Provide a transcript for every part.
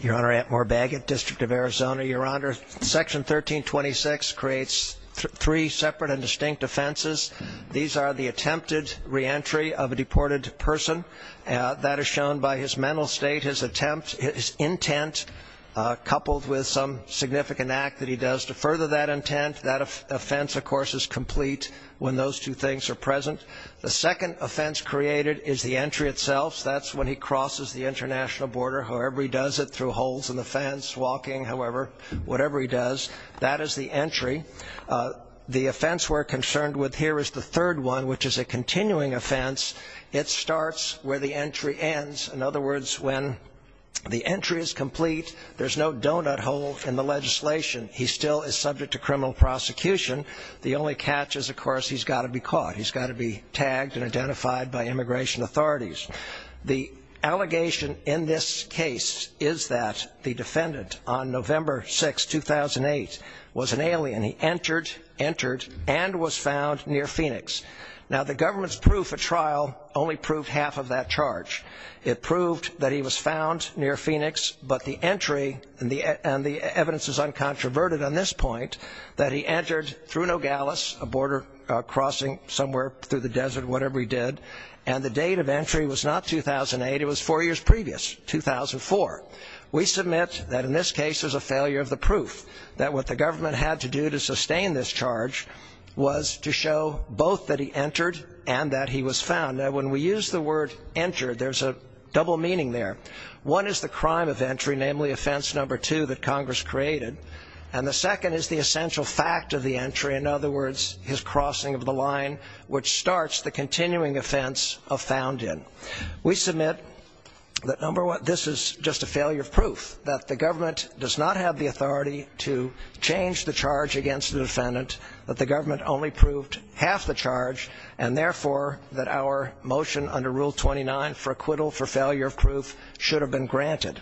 Your Honor, Antmoor Bagot, District of Arizona. Your Honor, Section 1326 creates three separate and distinct offenses. These are the attempted reentry of a deported person. That is shown by his mental state, his intent, coupled with some significant act that he does to further that intent. That offense, of course, is complete when those two things are present. The second offense created is the entry itself. That's when he crosses the international border, however he does it, through holes in the fence, walking, however, whatever he does. That is the entry. The offense we're concerned with here is the third one, which is a continuing offense. It starts where the entry ends. In other words, when the entry is complete, there's no donut hole in the legislation. He still is subject to criminal prosecution. The only catch is, of course, he's got to be caught. He's got to be tagged and identified by immigration authorities. The allegation in this case is that the defendant, on November 6, 2008, was an alien. He entered, entered, and was found near Phoenix. Now, the government's proof of trial only proved half of that charge. It proved that he was found near Phoenix, but the entry, and the evidence is uncontroverted on this point, that he entered through Nogales, a border crossing somewhere through the desert, whatever he did, and the date of entry was not 2008. It was four years previous, 2004. We submit that in this case there's a failure of the proof, that what the government had to do to sustain this charge was to show both that he entered and that he was found. Now, when we use the word entered, there's a double meaning there. One is the crime of entry, namely offense number two that Congress created, and the second is the essential fact of the entry. In other words, his crossing of the line, which starts the continuing offense of found in. We submit that, number one, this is just a failure of proof, that the government does not have the authority to change the charge against the defendant, that the government only proved half the charge, and, therefore, that our motion under Rule 29 for acquittal for failure of proof should have been granted.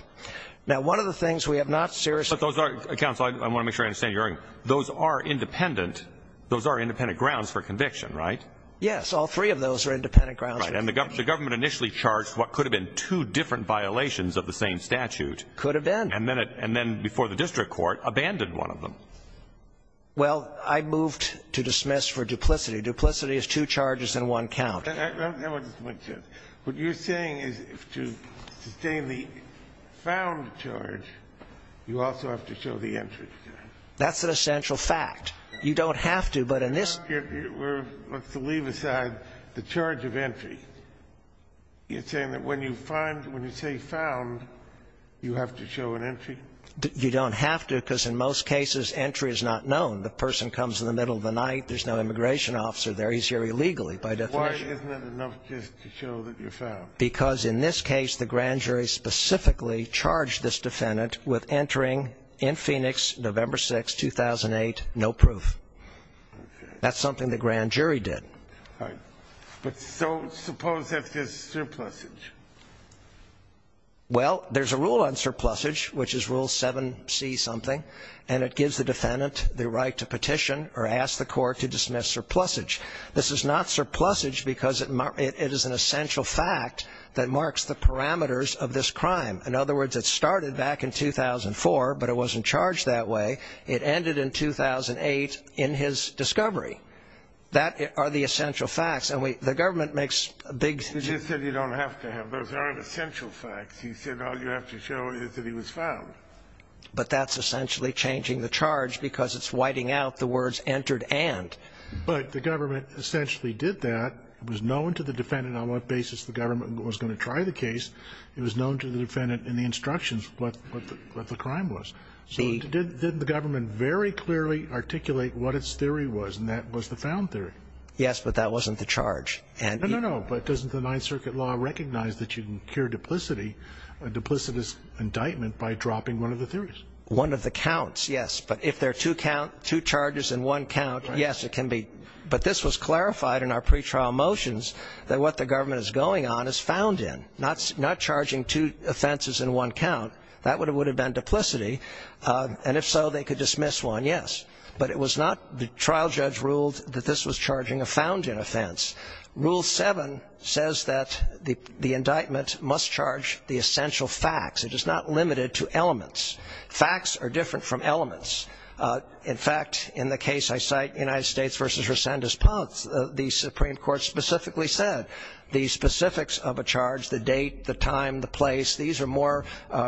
Now, one of the things we have not seriously – But those are – counsel, I want to make sure I understand you. Those are independent – those are independent grounds for conviction, right? Yes. All three of those are independent grounds. Right. And the government initially charged what could have been two different violations of the same statute. Could have been. And then before the district court abandoned one of them. Well, I moved to dismiss for duplicity. Duplicity is two charges and one count. I want to make sure. What you're saying is to sustain the found charge, you also have to show the entry charge. That's an essential fact. You don't have to, but in this – Let's leave aside the charge of entry. You're saying that when you find – when you say found, you have to show an entry? You don't have to, because in most cases, entry is not known. The person comes in the middle of the night. There's no immigration officer there. He's here illegally by definition. Why isn't that enough just to show that you're found? Because in this case, the grand jury specifically charged this defendant with entering in Phoenix, November 6, 2008, no proof. Okay. That's something the grand jury did. Right. But so suppose that there's surplusage. Well, there's a rule on surplusage, which is Rule 7C-something, and it gives the defendant the right to petition or ask the court to dismiss surplusage. This is not surplusage because it is an essential fact that marks the parameters of this crime. In other words, it started back in 2004, but it wasn't charged that way. It ended in 2008 in his discovery. That are the essential facts, and the government makes big – He just said you don't have to have. Those aren't essential facts. He said all you have to show is that he was found. But that's essentially changing the charge because it's whiting out the words entered and. But the government essentially did that. It was known to the defendant on what basis the government was going to try the case. It was known to the defendant in the instructions what the crime was. So did the government very clearly articulate what its theory was, and that was the found theory? Yes, but that wasn't the charge. No, no, no, but doesn't the Ninth Circuit law recognize that you can cure duplicity, a duplicitous indictment, by dropping one of the theories? One of the counts, yes, but if there are two charges in one count, yes, it can be. But this was clarified in our pretrial motions that what the government is going on is found in, not charging two offenses in one count. That would have been duplicity, and if so, they could dismiss one, yes. But it was not – the trial judge ruled that this was charging a found-in offense. Rule 7 says that the indictment must charge the essential facts. It is not limited to elements. Facts are different from elements. In fact, in the case I cite, United States v. Resendez-Ponce, the Supreme Court specifically said the specifics of a charge, the date, the time, the place, these are more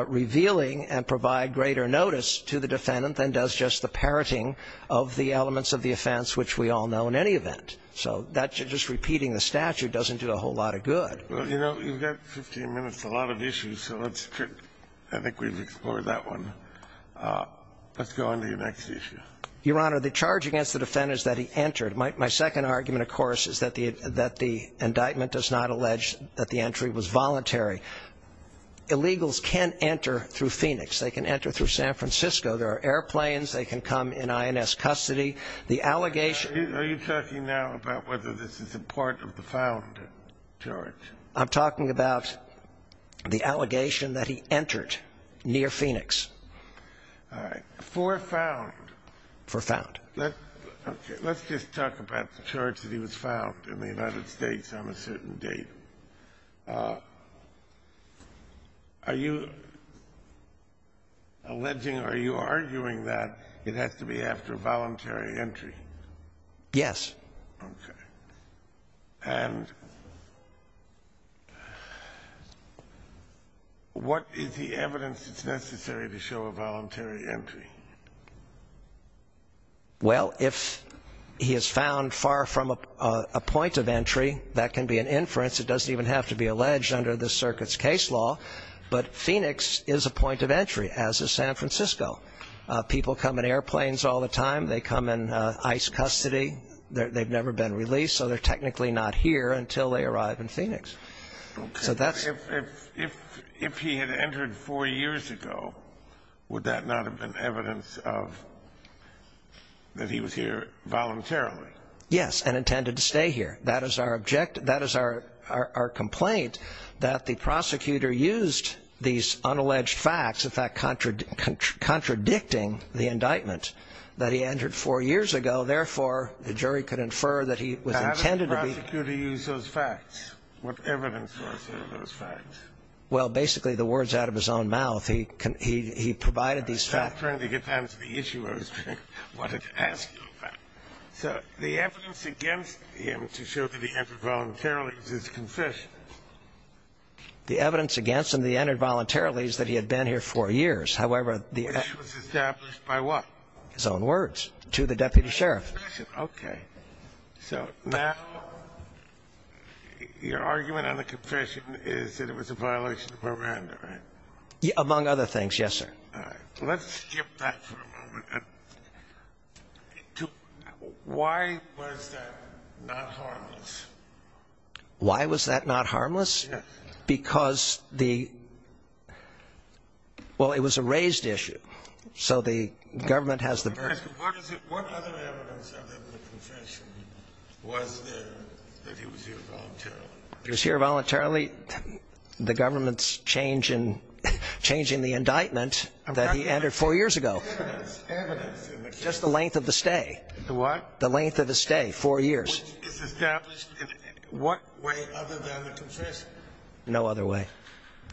revealing and provide greater notice to the defendant than does just the parroting of the elements of the offense, which we all know in any event. So just repeating the statute doesn't do a whole lot of good. Well, you know, you've got 15 minutes to a lot of issues, so let's – I think we've explored that one. Let's go on to your next issue. Your Honor, the charge against the defendant is that he entered. My second argument, of course, is that the indictment does not allege that the entry was voluntary. Illegals can enter through Phoenix. They can enter through San Francisco. There are airplanes. They can come in INS custody. Are you talking now about whether this is a part of the found charge? I'm talking about the allegation that he entered near Phoenix. All right. For found. For found. Let's just talk about the charge that he was found in the United States on a certain date. Are you alleging or are you arguing that it has to be after voluntary entry? Yes. Okay. And what is the evidence that's necessary to show a voluntary entry? Well, if he is found far from a point of entry, that can be an inference. It doesn't even have to be alleged under the circuit's case law. But Phoenix is a point of entry, as is San Francisco. People come in airplanes all the time. They come in ICE custody. They've never been released, so they're technically not here until they arrive in Phoenix. If he had entered four years ago, would that not have been evidence that he was here voluntarily? Yes, and intended to stay here. That is our complaint, that the prosecutor used these unalleged facts, in fact, contradicting the indictment that he entered four years ago. Therefore, the jury could infer that he was intended to be. What is those facts? What evidence are those facts? Well, basically, the words out of his own mouth. He provided these facts. I'm trying to get down to the issue I wanted to ask you about. So the evidence against him to show that he entered voluntarily is his confession. The evidence against him that he entered voluntarily is that he had been here four years. Which was established by what? His own words to the deputy sheriff. Okay. So now your argument on the confession is that it was a violation of Miranda, right? Among other things, yes, sir. All right. Let's skip that for a moment. Why was that not harmless? Why was that not harmless? Because the – well, it was a raised issue, so the government has the burden. What other evidence other than the confession was there that he was here voluntarily? If he was here voluntarily, the government's changing the indictment that he entered four years ago. Evidence. Evidence. Just the length of the stay. The what? The length of the stay, four years. Which is established in what way other than the confession? No other way.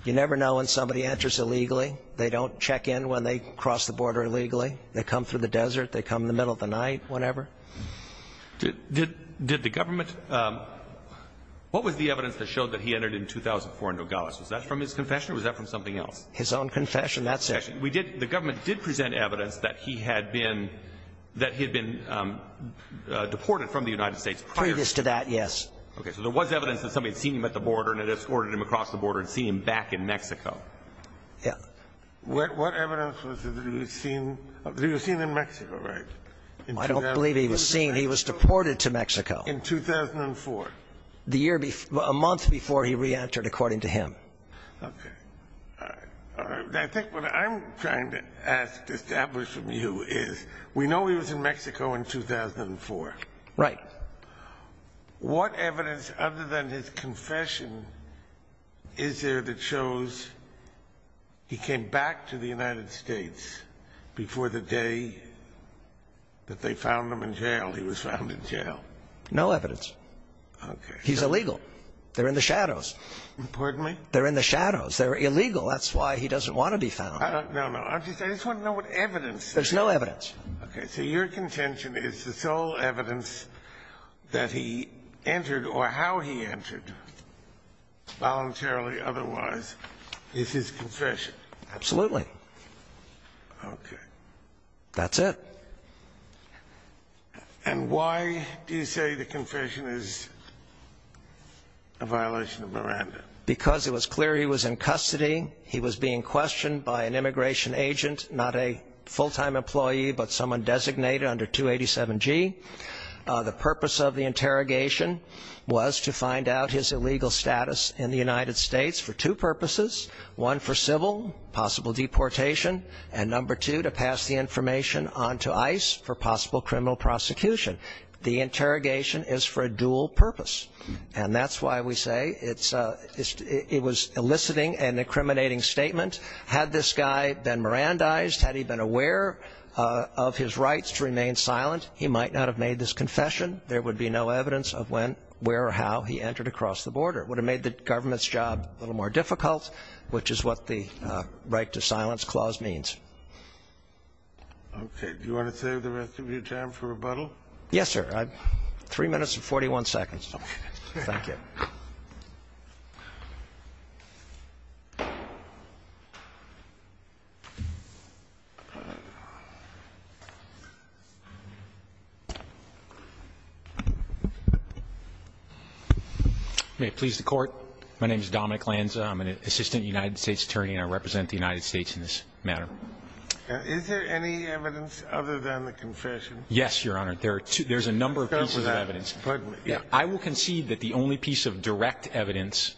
You never know when somebody enters illegally. They don't check in when they cross the border illegally. They come through the desert. They come in the middle of the night, whenever. Did the government – what was the evidence that showed that he entered in 2004 in Nogales? Was that from his confession or was that from something else? His own confession, that's it. The government did present evidence that he had been deported from the United States prior. Previous to that, yes. Okay. So there was evidence that somebody had seen him at the border and had escorted him across the border and seen him back in Mexico. Yes. What evidence was it that he was seen in Mexico, right? I don't believe he was seen. He was deported to Mexico. In 2004. The year before – a month before he re-entered, according to him. Okay. All right. I think what I'm trying to ask to establish from you is we know he was in Mexico in 2004. Right. What evidence, other than his confession, is there that shows he came back to the United States before the day that they found him in jail? He was found in jail. No evidence. Okay. He's illegal. They're in the shadows. Pardon me? They're in the shadows. They're illegal. That's why he doesn't want to be found. No, no. I just want to know what evidence there is. There's no evidence. Okay. So your contention is the sole evidence that he entered or how he entered, voluntarily or otherwise, is his confession. Absolutely. Okay. That's it. And why do you say the confession is a violation of Miranda? Because it was clear he was in custody. He was being questioned by an immigration agent, not a full-time employee, but someone designated under 287G. The purpose of the interrogation was to find out his illegal status in the United States for two purposes, one for civil, possible deportation, and number two, to pass the information on to ICE for possible criminal prosecution. The interrogation is for a dual purpose. And that's why we say it was an eliciting and incriminating statement. Had this guy been Mirandized, had he been aware of his rights to remain silent, he might not have made this confession. There would be no evidence of when, where, or how he entered across the border. It would have made the government's job a little more difficult, which is what the right to silence clause means. Okay. Do you want to save the rest of your time for rebuttal? Yes, sir. Three minutes and 41 seconds. Thank you. May it please the Court. My name is Dominic Lanza. I'm an assistant United States attorney, and I represent the United States in this matter. Is there any evidence other than the confession? Yes, Your Honor. There are two. There's a number of pieces of evidence. Go ahead. I will concede that the only piece of direct evidence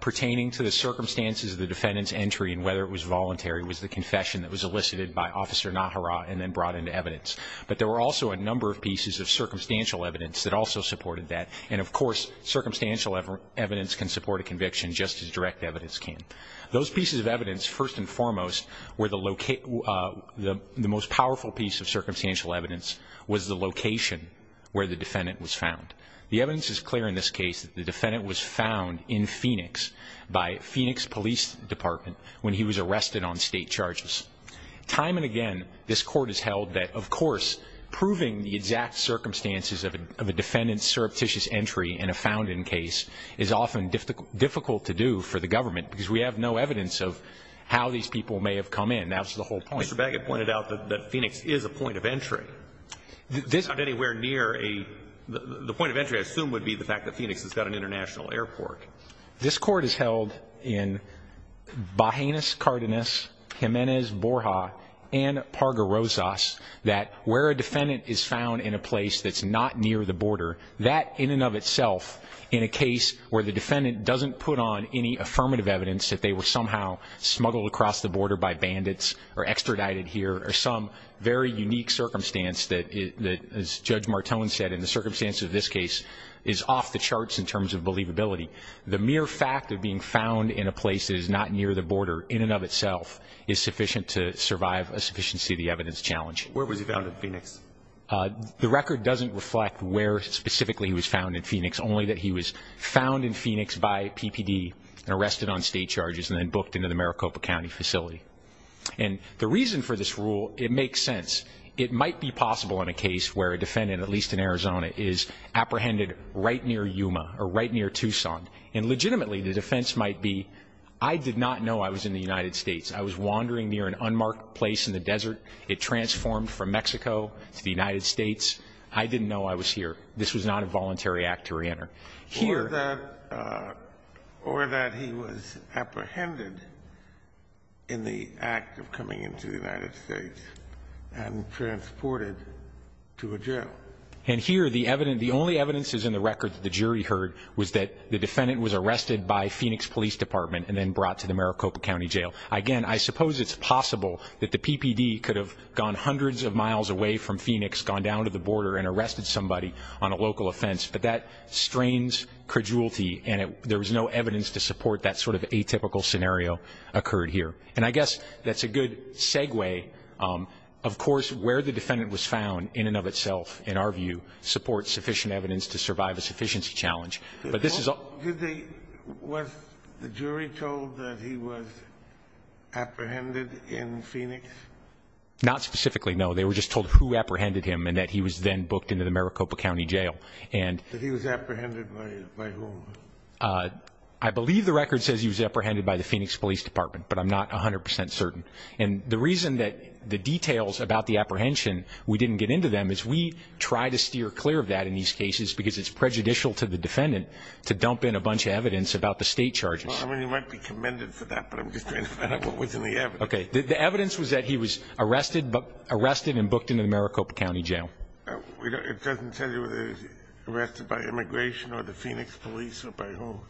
pertaining to the circumstances of the defendant's entry and whether it was voluntary was the confession that was elicited by Officer Nahara and then brought into evidence. But there were also a number of pieces of circumstantial evidence that also supported that. And, of course, circumstantial evidence can support a conviction just as direct evidence can. Those pieces of evidence, first and foremost, were the most powerful piece of circumstantial evidence was the location where the defendant was found. The evidence is clear in this case that the defendant was found in Phoenix by Phoenix Police Department when he was arrested on state charges. Time and again, this Court has held that, of course, proving the exact circumstances of a defendant's surreptitious entry in a found-in case is often difficult to do for the government because we have no evidence of how these people may have come in. That was the whole point. Mr. Baggett pointed out that Phoenix is a point of entry. It's not anywhere near a... The point of entry, I assume, would be the fact that Phoenix has got an international airport. This Court has held in Bajenis, Cardenas, Jimenez, Borja, and Parga-Rosas that where a defendant is found in a place that's not near the border, that in and of itself in a case where the defendant doesn't put on any affirmative evidence that they were somehow smuggled across the border by bandits or extradited here or some very unique circumstance that, as Judge Martone said, in the circumstances of this case, is off the charts in terms of believability, the mere fact of being found in a place that is not near the border in and of itself is sufficient to survive a sufficiency of the evidence challenge. Where was he found in Phoenix? The record doesn't reflect where specifically he was found in Phoenix, only that he was found in Phoenix by PPD and arrested on state charges and then booked into the Maricopa County facility. And the reason for this rule, it makes sense. It might be possible in a case where a defendant, at least in Arizona, is apprehended right near Yuma or right near Tucson. And legitimately, the defense might be, I did not know I was in the United States. I was wandering near an unmarked place in the desert. It transformed from Mexico to the United States. I didn't know I was here. This was not a voluntary act to reenter. Or that he was apprehended in the act of coming into the United States and transported to a jail. And here, the evidence, the only evidence is in the record that the jury heard was that the defendant was arrested by Phoenix Police Department and then brought to the Maricopa County jail. Again, I suppose it's possible that the PPD could have gone hundreds of miles away from Phoenix, gone down to the border and arrested somebody on a local offense. But that strains credulity. And there was no evidence to support that sort of atypical scenario occurred here. And I guess that's a good segue. Of course, where the defendant was found, in and of itself, in our view, supports sufficient evidence to survive a sufficiency challenge. But this is a... Was the jury told that he was apprehended in Phoenix? Not specifically, no. They were just told who apprehended him and that he was then booked into the Maricopa County jail. That he was apprehended by whom? I believe the record says he was apprehended by the Phoenix Police Department, but I'm not 100% certain. And the reason that the details about the apprehension, we didn't get into them, is we try to steer clear of that in these cases because it's prejudicial to the defendant to dump in a bunch of evidence about the state charges. Well, I mean, you might be commended for that, but I'm just trying to find out what was in the evidence. Okay. The evidence was that he was arrested and booked into the Maricopa County jail. It doesn't tell you whether he was arrested by immigration or the Phoenix Police or by whom?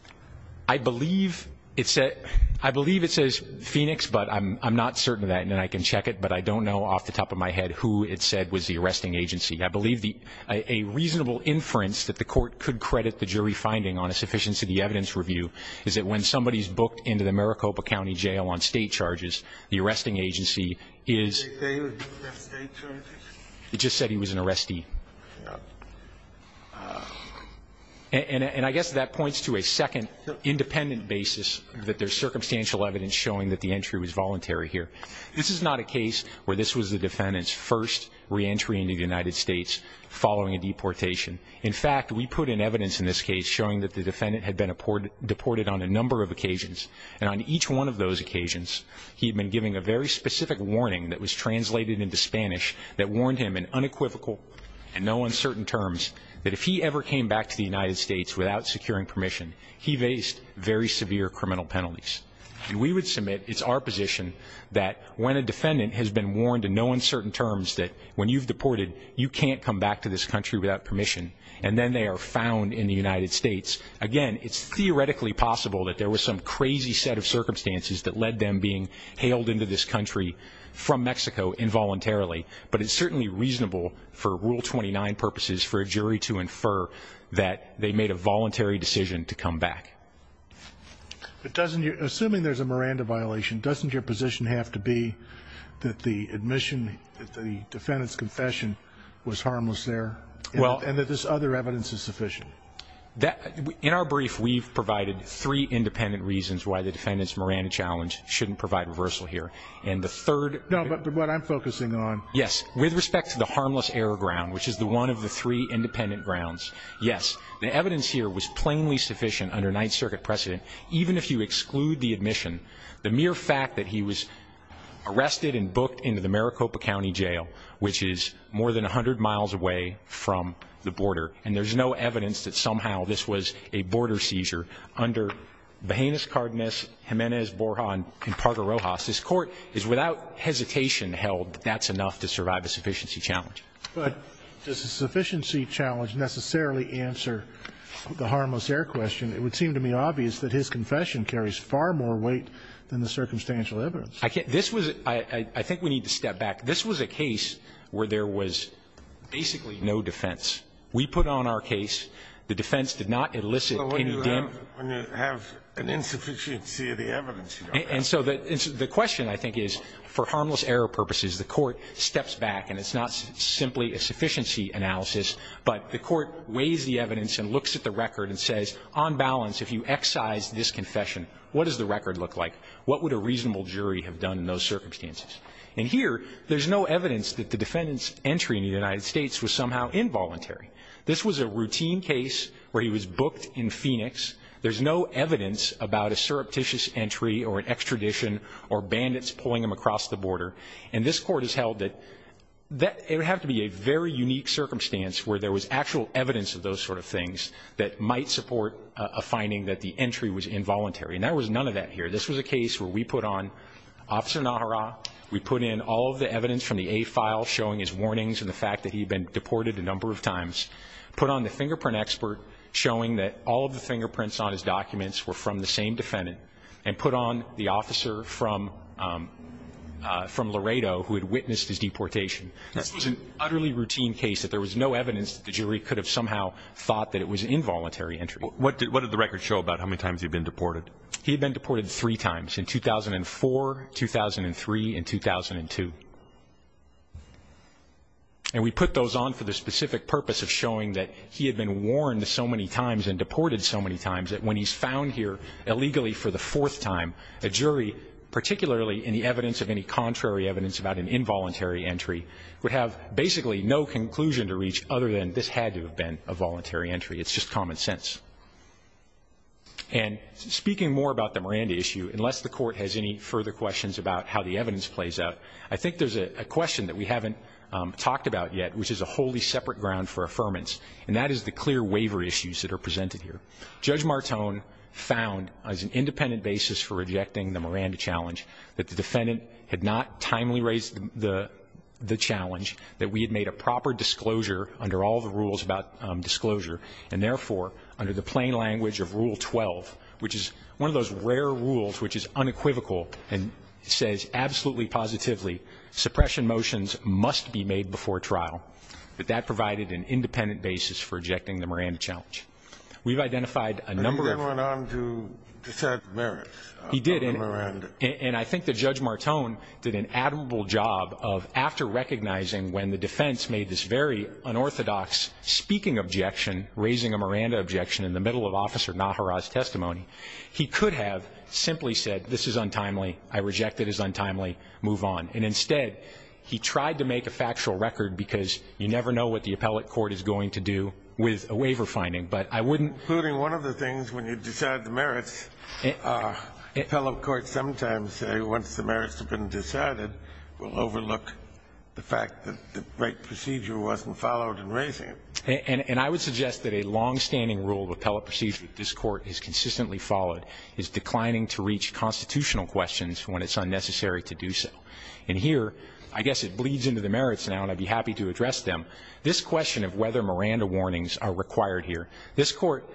I believe it says Phoenix, but I'm not certain of that. And I can check it, but I don't know off the top of my head who it said was the arresting agency. I believe a reasonable inference that the court could credit the jury finding on a sufficiency evidence review is that when somebody is booked into the Maricopa County jail on state charges, the arresting agency is... Did they say he was booked on state charges? It just said he was an arrestee. And I guess that points to a second independent basis that there's circumstantial evidence showing that the entry was voluntary here. This is not a case where this was the defendant's first reentry into the United States following a deportation. In fact, we put in evidence in this case showing that the defendant had been deported on a number of occasions, and on each one of those occasions he had been given a very specific warning that was translated into Spanish that warned him in unequivocal and no uncertain terms that if he ever came back to the United States without securing permission, he faced very severe criminal penalties. And we would submit it's our position that when a defendant has been warned in no uncertain terms that when you've deported, you can't come back to this country without permission, and then they are found in the United States, again, it's theoretically possible that there was some crazy set of circumstances that led them being hailed into this country from Mexico involuntarily, but it's certainly reasonable for Rule 29 purposes for a jury to infer that they made a voluntary decision to come back. Assuming there's a Miranda violation, doesn't your position have to be that the admission, that the defendant's confession was harmless there and that this other evidence is sufficient? In our brief, we've provided three independent reasons why the defendant's Miranda challenge shouldn't provide reversal here. No, but what I'm focusing on. Yes, with respect to the harmless error ground, which is one of the three independent grounds. Yes, the evidence here was plainly sufficient under Ninth Circuit precedent, even if you exclude the admission. The mere fact that he was arrested and booked into the Maricopa County Jail, which is more than 100 miles away from the border, and there's no evidence that somehow this was a border seizure under Bajanis, Cardenas, Jimenez, Borja, and Pardo-Rojas, this Court is without hesitation held that that's enough to survive a sufficiency challenge. But does a sufficiency challenge necessarily answer the harmless error question? It would seem to me obvious that his confession carries far more weight than the circumstantial evidence. I think we need to step back. This was a case where there was basically no defense. We put on our case. The defense did not elicit any damage. When you have an insufficiency of the evidence, you don't. And so the question, I think, is for harmless error purposes, the Court steps back, and it's not simply a sufficiency analysis, but the Court weighs the evidence and looks at the record and says, on balance, if you excise this confession, what does the record look like? What would a reasonable jury have done in those circumstances? And here, there's no evidence that the defendant's entry in the United States was somehow involuntary. This was a routine case where he was booked in Phoenix. There's no evidence about a surreptitious entry or an extradition or bandits pulling him across the border. And this Court has held that it would have to be a very unique circumstance where there was actual evidence of those sort of things that might support a finding that the entry was involuntary. And there was none of that here. This was a case where we put on Officer Nahara. We put in all of the evidence from the A file showing his warnings and the fact that he had been deported a number of times, put on the fingerprint expert showing that all of the fingerprints on his documents were from the same defendant, and put on the officer from Laredo who had witnessed his deportation. This was an utterly routine case that there was no evidence that the jury could have somehow thought that it was an involuntary entry. He had been deported three times, in 2004, 2003, and 2002. And we put those on for the specific purpose of showing that he had been warned so many times and deported so many times that when he's found here illegally for the fourth time, a jury, particularly in the evidence of any contrary evidence about an involuntary entry, would have basically no conclusion to reach other than this had to have been a voluntary entry. It's just common sense. And speaking more about the Miranda issue, unless the court has any further questions about how the evidence plays out, I think there's a question that we haven't talked about yet, which is a wholly separate ground for affirmance, and that is the clear waiver issues that are presented here. Judge Martone found as an independent basis for rejecting the Miranda challenge that the defendant had not timely raised the challenge, that we had made a proper disclosure under all the rules about disclosure, and therefore under the plain language of Rule 12, which is one of those rare rules which is unequivocal and says absolutely positively, suppression motions must be made before trial, that that provided an independent basis for rejecting the Miranda challenge. We've identified a number of them. And he went on to describe the merits of the Miranda. He did, and I think that Judge Martone did an admirable job of, after recognizing when the defense made this very unorthodox speaking objection, raising a Miranda objection in the middle of Officer Nahara's testimony, he could have simply said, this is untimely, I reject it as untimely, move on. And instead, he tried to make a factual record, because you never know what the appellate court is going to do with a waiver finding. But I wouldn't Including one of the things when you decide the merits, appellate courts sometimes say once the merits have been decided, we'll overlook the fact that the right procedure wasn't followed in raising it. And I would suggest that a longstanding rule of appellate procedure that this Court has consistently followed is declining to reach constitutional questions when it's unnecessary to do so. And here, I guess it bleeds into the merits now, and I'd be happy to address them. This question of whether Miranda warnings are required here, this Court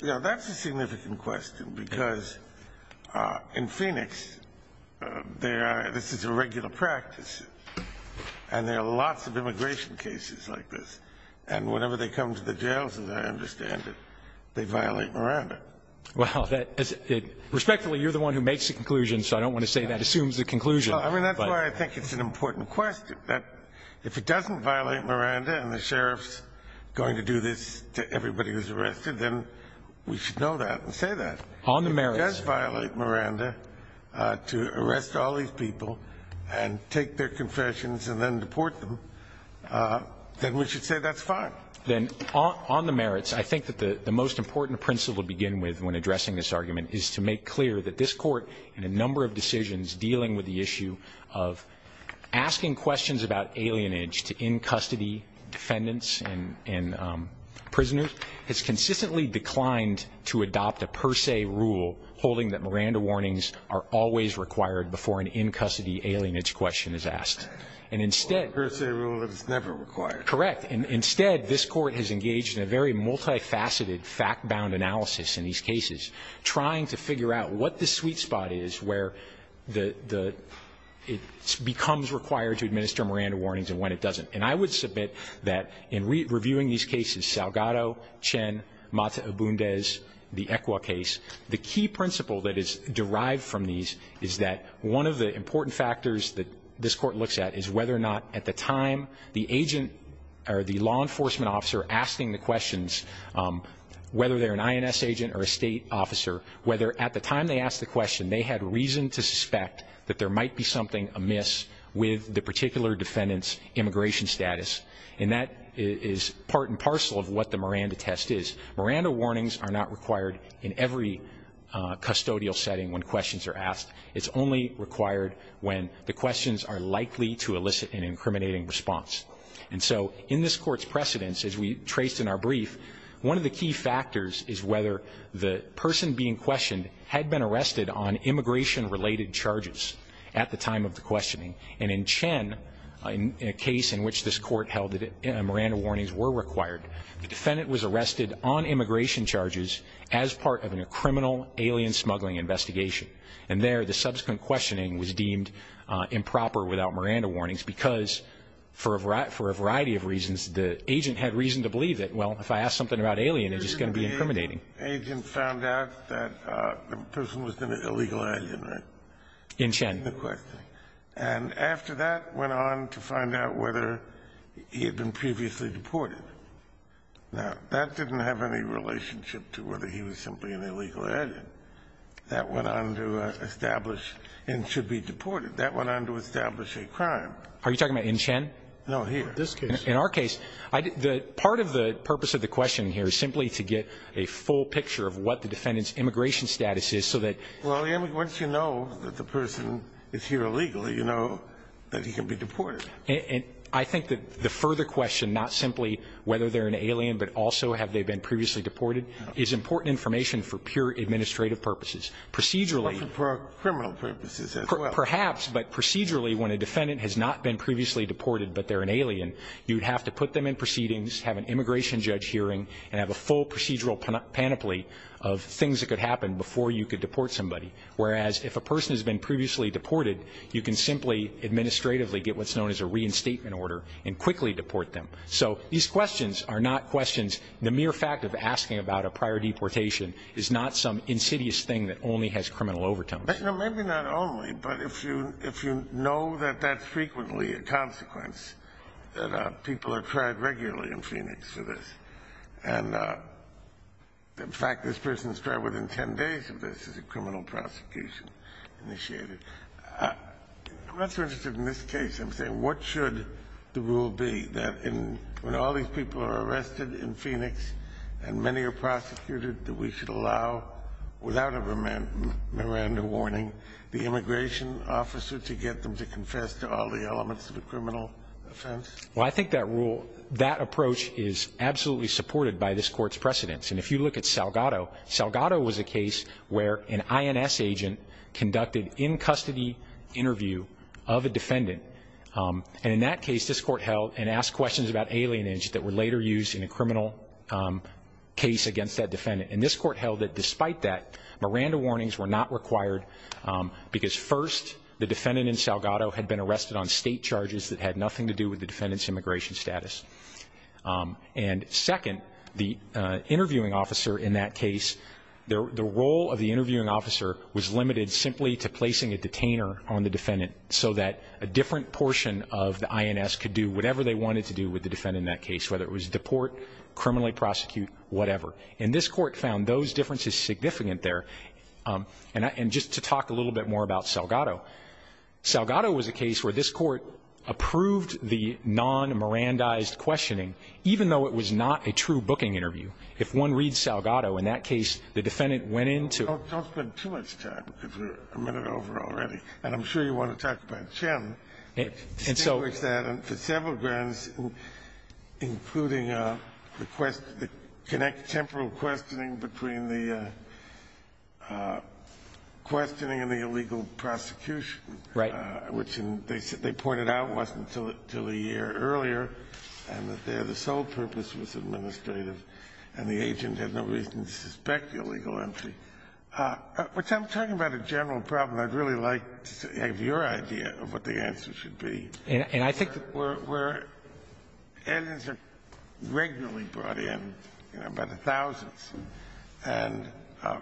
That's a significant question, because in Phoenix, this is a regular practice, and there are lots of immigration cases like this. And whenever they come to the jails, as I understand it, they violate Miranda. Respectfully, you're the one who makes the conclusion, so I don't want to say that assumes the conclusion. That's why I think it's an important question, that if it doesn't violate Miranda and the sheriff's going to do this to everybody who's arrested, then we should know that and say that. On the merits If it does violate Miranda to arrest all these people and take their confessions and then deport them, then we should say that's fine. Then on the merits, I think that the most important principle to begin with when addressing this argument is to make clear that this Court, in a number of decisions dealing with the issue of asking questions about alienage to in-custody defendants and prisoners, has consistently declined to adopt a per se rule holding that Miranda warnings are always required before an in-custody alienage question is asked. A per se rule that's never required. Correct. Instead, this Court has engaged in a very multifaceted, fact-bound analysis in these cases, trying to figure out what the sweet spot is where it becomes required to administer Miranda warnings and when it doesn't. And I would submit that in reviewing these cases, Salgado, Chen, Mata-Obundez, the ECWA case, the key principle that is derived from these is that one of the important factors that this Court looks at is whether or not at the time the agent or the law enforcement officer asking the questions, whether they're an INS agent or a state officer, whether at the time they asked the question they had reason to suspect that there might be something amiss with the particular defendant's immigration status. And that is part and parcel of what the Miranda test is. Miranda warnings are not required in every custodial setting when questions are asked. It's only required when the questions are likely to elicit an incriminating response. And so in this Court's precedence, as we traced in our brief, one of the key factors is whether the person being questioned had been arrested on immigration-related charges at the time of the questioning. And in Chen, in a case in which this Court held that Miranda warnings were required, the defendant was arrested on immigration charges as part of a criminal alien smuggling investigation. And there, the subsequent questioning was deemed improper without Miranda warnings because for a variety of reasons, the agent had reason to believe that, well, if I ask something about alien, it's just going to be incriminating. The agent found out that the person was an illegal alien, right? In Chen. In the questioning. And after that, went on to find out whether he had been previously deported. Now, that didn't have any relationship to whether he was simply an illegal alien. That went on to establish and should be deported. That went on to establish a crime. Are you talking about in Chen? No, here. In this case. Part of the purpose of the questioning here is simply to get a full picture of what the defendant's immigration status is so that. Well, once you know that the person is here illegally, you know that he can be deported. And I think that the further question, not simply whether they're an alien, but also have they been previously deported, is important information for pure administrative purposes. Procedurally. For criminal purposes as well. Perhaps, but procedurally, when a defendant has not been previously deported, but they're an alien, you'd have to put them in proceedings, have an immigration judge hearing, and have a full procedural panoply of things that could happen before you could deport somebody. Whereas, if a person has been previously deported, you can simply administratively get what's known as a reinstatement order and quickly deport them. So these questions are not questions. The mere fact of asking about a prior deportation is not some insidious thing that only has criminal overtones. Maybe not only, but if you know that that's frequently a consequence, that people are tried regularly in Phoenix for this. And, in fact, this person is tried within ten days of this as a criminal prosecution initiated. I'm not so interested in this case. I'm saying what should the rule be, that when all these people are arrested in Phoenix and many are prosecuted, that we should allow, without a Miranda warning, the immigration officer to get them to confess to all the elements of a criminal offense? Well, I think that rule, that approach is absolutely supported by this court's precedents. And if you look at Salgado, Salgado was a case where an INS agent conducted in-custody interview of a defendant. And in that case, this court held and asked questions about alienage that were later used in a defendant. And this court held that, despite that, Miranda warnings were not required because, first, the defendant in Salgado had been arrested on state charges that had nothing to do with the defendant's immigration status. And, second, the interviewing officer in that case, the role of the interviewing officer was limited simply to placing a detainer on the defendant so that a different portion of the INS could do whatever they wanted to do with the defendant in that case, whether it was deport, criminally prosecute, whatever. And this court found those differences significant there. And just to talk a little bit more about Salgado, Salgado was a case where this court approved the non-Mirandized questioning, even though it was not a true booking interview. If one reads Salgado, in that case, the defendant went in to ---- Don't spend too much time, because we're a minute over already. And I'm sure you want to talk about Chen. And so ---- Scalia. Right. I'm talking about a general problem. I'd really like to have your idea of what the answer should be. And I think that we're ---- Indians are regularly brought in by the thousands and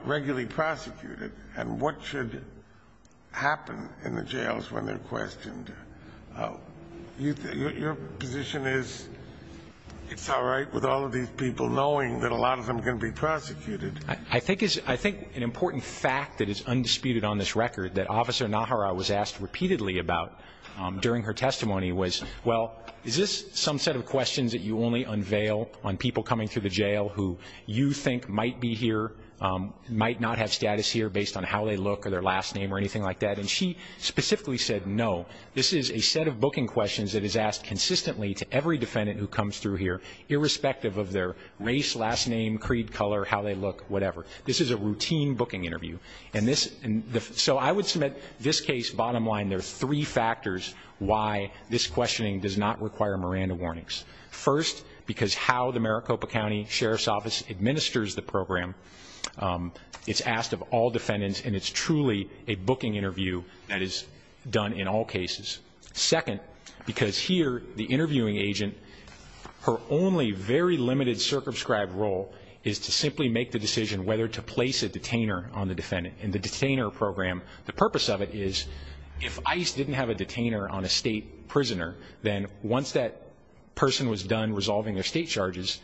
regularly prosecuted. And what should happen in the jails when they're questioned? Your position is it's all right with all of these people knowing that a lot of them can be prosecuted. I think it's an important fact that is undisputed on this record that Officer Nahara was asked repeatedly about during her testimony was, well, is this some set of questions that you only unveil on people coming through the jail who you think might be here, might not have status here based on how they look or their last name or anything like that? And she specifically said no. This is a set of booking questions that is asked consistently to every defendant who comes through here, irrespective of their race, last name, creed, color, how they look, whatever. This is a routine booking interview. So I would submit this case, bottom line, there are three factors why this questioning does not require Miranda warnings. First, because how the Maricopa County Sheriff's Office administers the program, it's asked of all defendants, and it's truly a booking interview that is done in all cases. Second, because here the interviewing agent, her only very limited circumscribed role is to simply make the decision whether to place a detainer on the defendant. In the detainer program, the purpose of it is, if ICE didn't have a detainer on a state prisoner, then once that person was done resolving their state charges,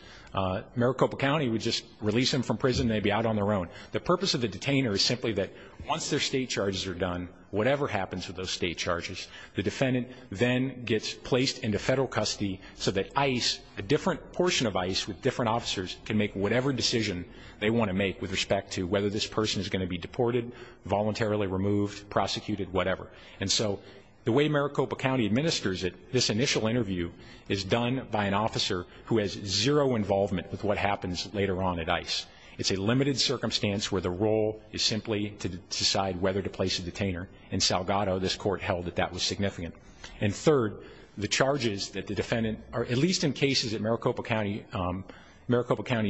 Maricopa County would just release them from prison and they'd be out on their own. The purpose of the detainer is simply that once their state charges are done, whatever happens with those state charges, the defendant then gets placed into federal custody so that ICE, a different portion of ICE with different officers, can make whatever decision they want to make with respect to whether this person is going to be deported, voluntarily removed, prosecuted, whatever. And so the way Maricopa County administers it, this initial interview is done by an officer who has zero involvement with what happens later on at ICE. It's a limited circumstance where the role is simply to decide whether to place a detainer. In Salgado, this court held that that was significant. And third, the charges that the defendant, at least in cases at Maricopa County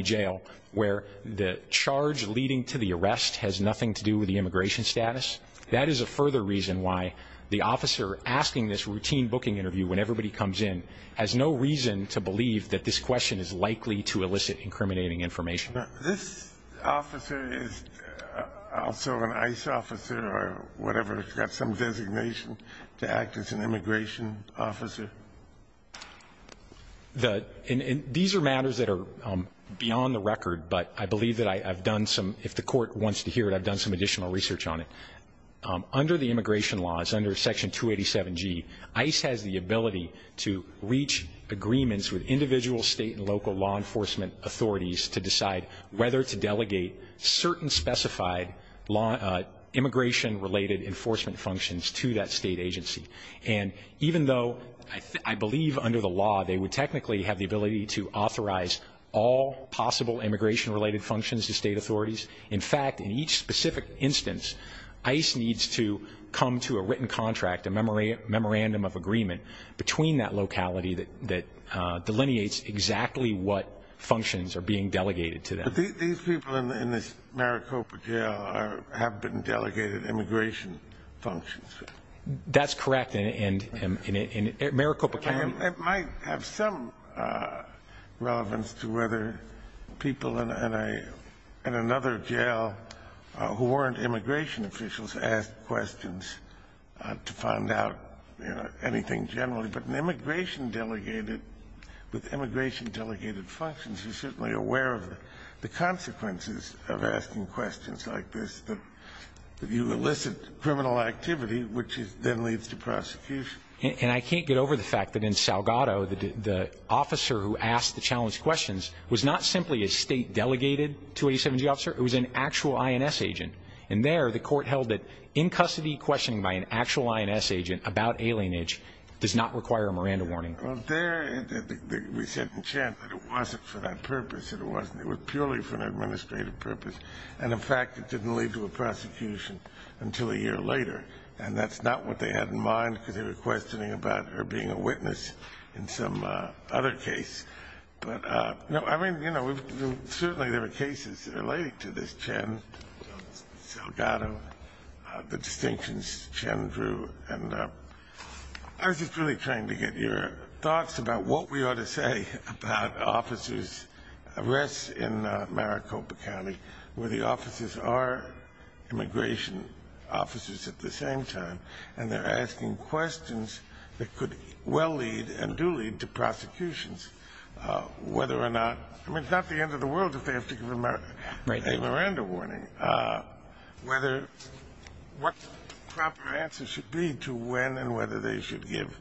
Jail, where the charge leading to the arrest has nothing to do with the immigration status, that is a further reason why the officer asking this routine booking interview when everybody comes in has no reason to believe that this question is likely to elicit incriminating information. This officer is also an ICE officer or whatever. He's got some designation to act as an immigration officer. These are matters that are beyond the record, but I believe that I've done some, if the court wants to hear it, I've done some additional research on it. Under the immigration laws, under Section 287G, ICE has the ability to reach agreements with individual state and local law enforcement authorities to decide whether to delegate certain specified immigration-related enforcement functions to that state agency. And even though I believe under the law they would technically have the ability to authorize all possible immigration-related functions to state authorities, in fact, in each specific instance, ICE needs to come to a written contract, a memorandum of agreement, between that locality that delineates exactly what functions are being delegated to them. But these people in this Maricopa jail have been delegated immigration functions. That's correct. In Maricopa County. It might have some relevance to whether people in another jail who weren't immigration officials asked questions to find out, you know, anything generally. But an immigration delegated, with immigration delegated functions, you're certainly aware of the consequences of asking questions like this, that you elicit criminal activity, which then leads to prosecution. And I can't get over the fact that in Salgado, the officer who asked the challenged questions was not simply a state-delegated 287G officer, it was an actual INS agent. And there the court held that in-custody questioning by an actual INS agent about alienage does not require a Miranda warning. Well, there we said in Chen that it wasn't for that purpose. It was purely for an administrative purpose. And, in fact, it didn't lead to a prosecution until a year later. And that's not what they had in mind because they were questioning about her being a witness in some other case. I mean, you know, certainly there were cases related to this Chen, Salgado, the distinctions Chen drew. And I was just really trying to get your thoughts about what we ought to say about officers' arrests in Maricopa County, where the officers are immigration officers at the same time, and they're asking questions that could well lead and do lead to prosecutions, whether or not, I mean, it's not the end of the world if they have to give a Miranda warning, whether what the proper answer should be to when and whether they should give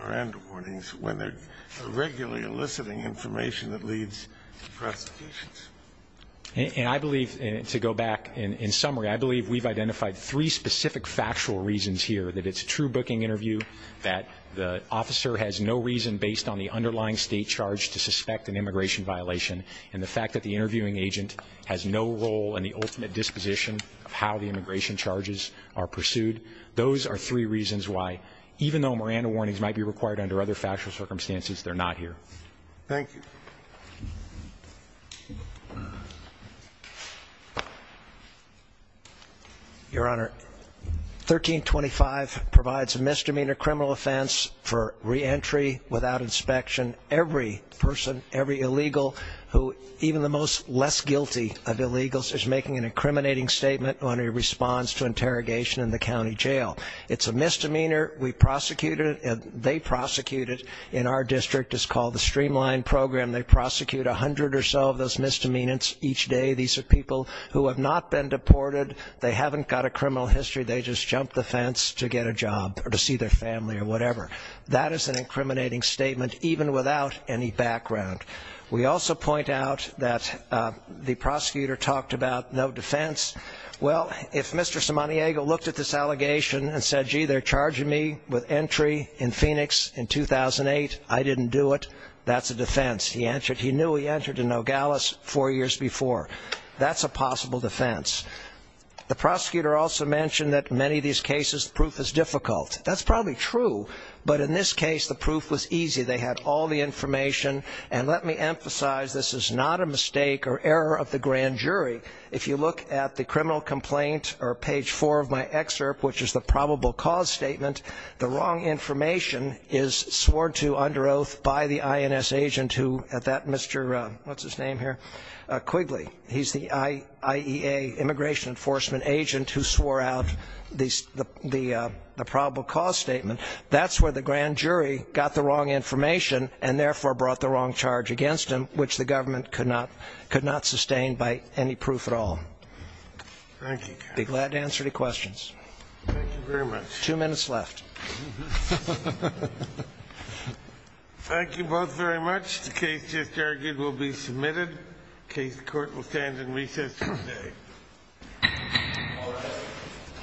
Miranda warnings when they're regularly eliciting information that leads to prosecutions. And I believe, to go back in summary, I believe we've identified three specific factual reasons here, that it's a true booking interview, that the officer has no reason, based on the underlying state charge, to suspect an immigration violation, and the fact that the interviewing agent has no role in the ultimate disposition of how the immigration charges are pursued. Those are three reasons why, even though Miranda warnings might be required under other factual circumstances, they're not here. Thank you. Your Honor, 1325 provides a misdemeanor criminal offense for reentry without inspection. Every person, every illegal, who even the most less guilty of illegals is making an incriminating statement on a response to interrogation in the county jail. It's a misdemeanor. We prosecute it, and they prosecute it in our district. It's called the Streamline Program. They prosecute 100 or so of those misdemeanors each day. These are people who have not been deported. They haven't got a criminal history. They just jumped the fence to get a job or to see their family or whatever. That is an incriminating statement, even without any background. We also point out that the prosecutor talked about no defense. Well, if Mr. Simoniego looked at this allegation and said, gee, they're charging me with entry in Phoenix in 2008, I didn't do it, that's a defense. He knew he entered in Nogales four years before. That's a possible defense. The prosecutor also mentioned that in many of these cases the proof is difficult. That's probably true, but in this case the proof was easy. They had all the information, and let me emphasize this is not a mistake or error of the grand jury. If you look at the criminal complaint or page 4 of my excerpt, which is the probable cause statement, the wrong information is swore to under oath by the INS agent who at that Mr. Quigley. He's the IEA immigration enforcement agent who swore out the probable cause statement. That's where the grand jury got the wrong information and therefore brought the wrong charge against him, which the government could not sustain by any proof at all. I'd be glad to answer any questions. Thank you very much. Two minutes left. Thank you both very much. The case just argued will be submitted. The court will stand in recess today.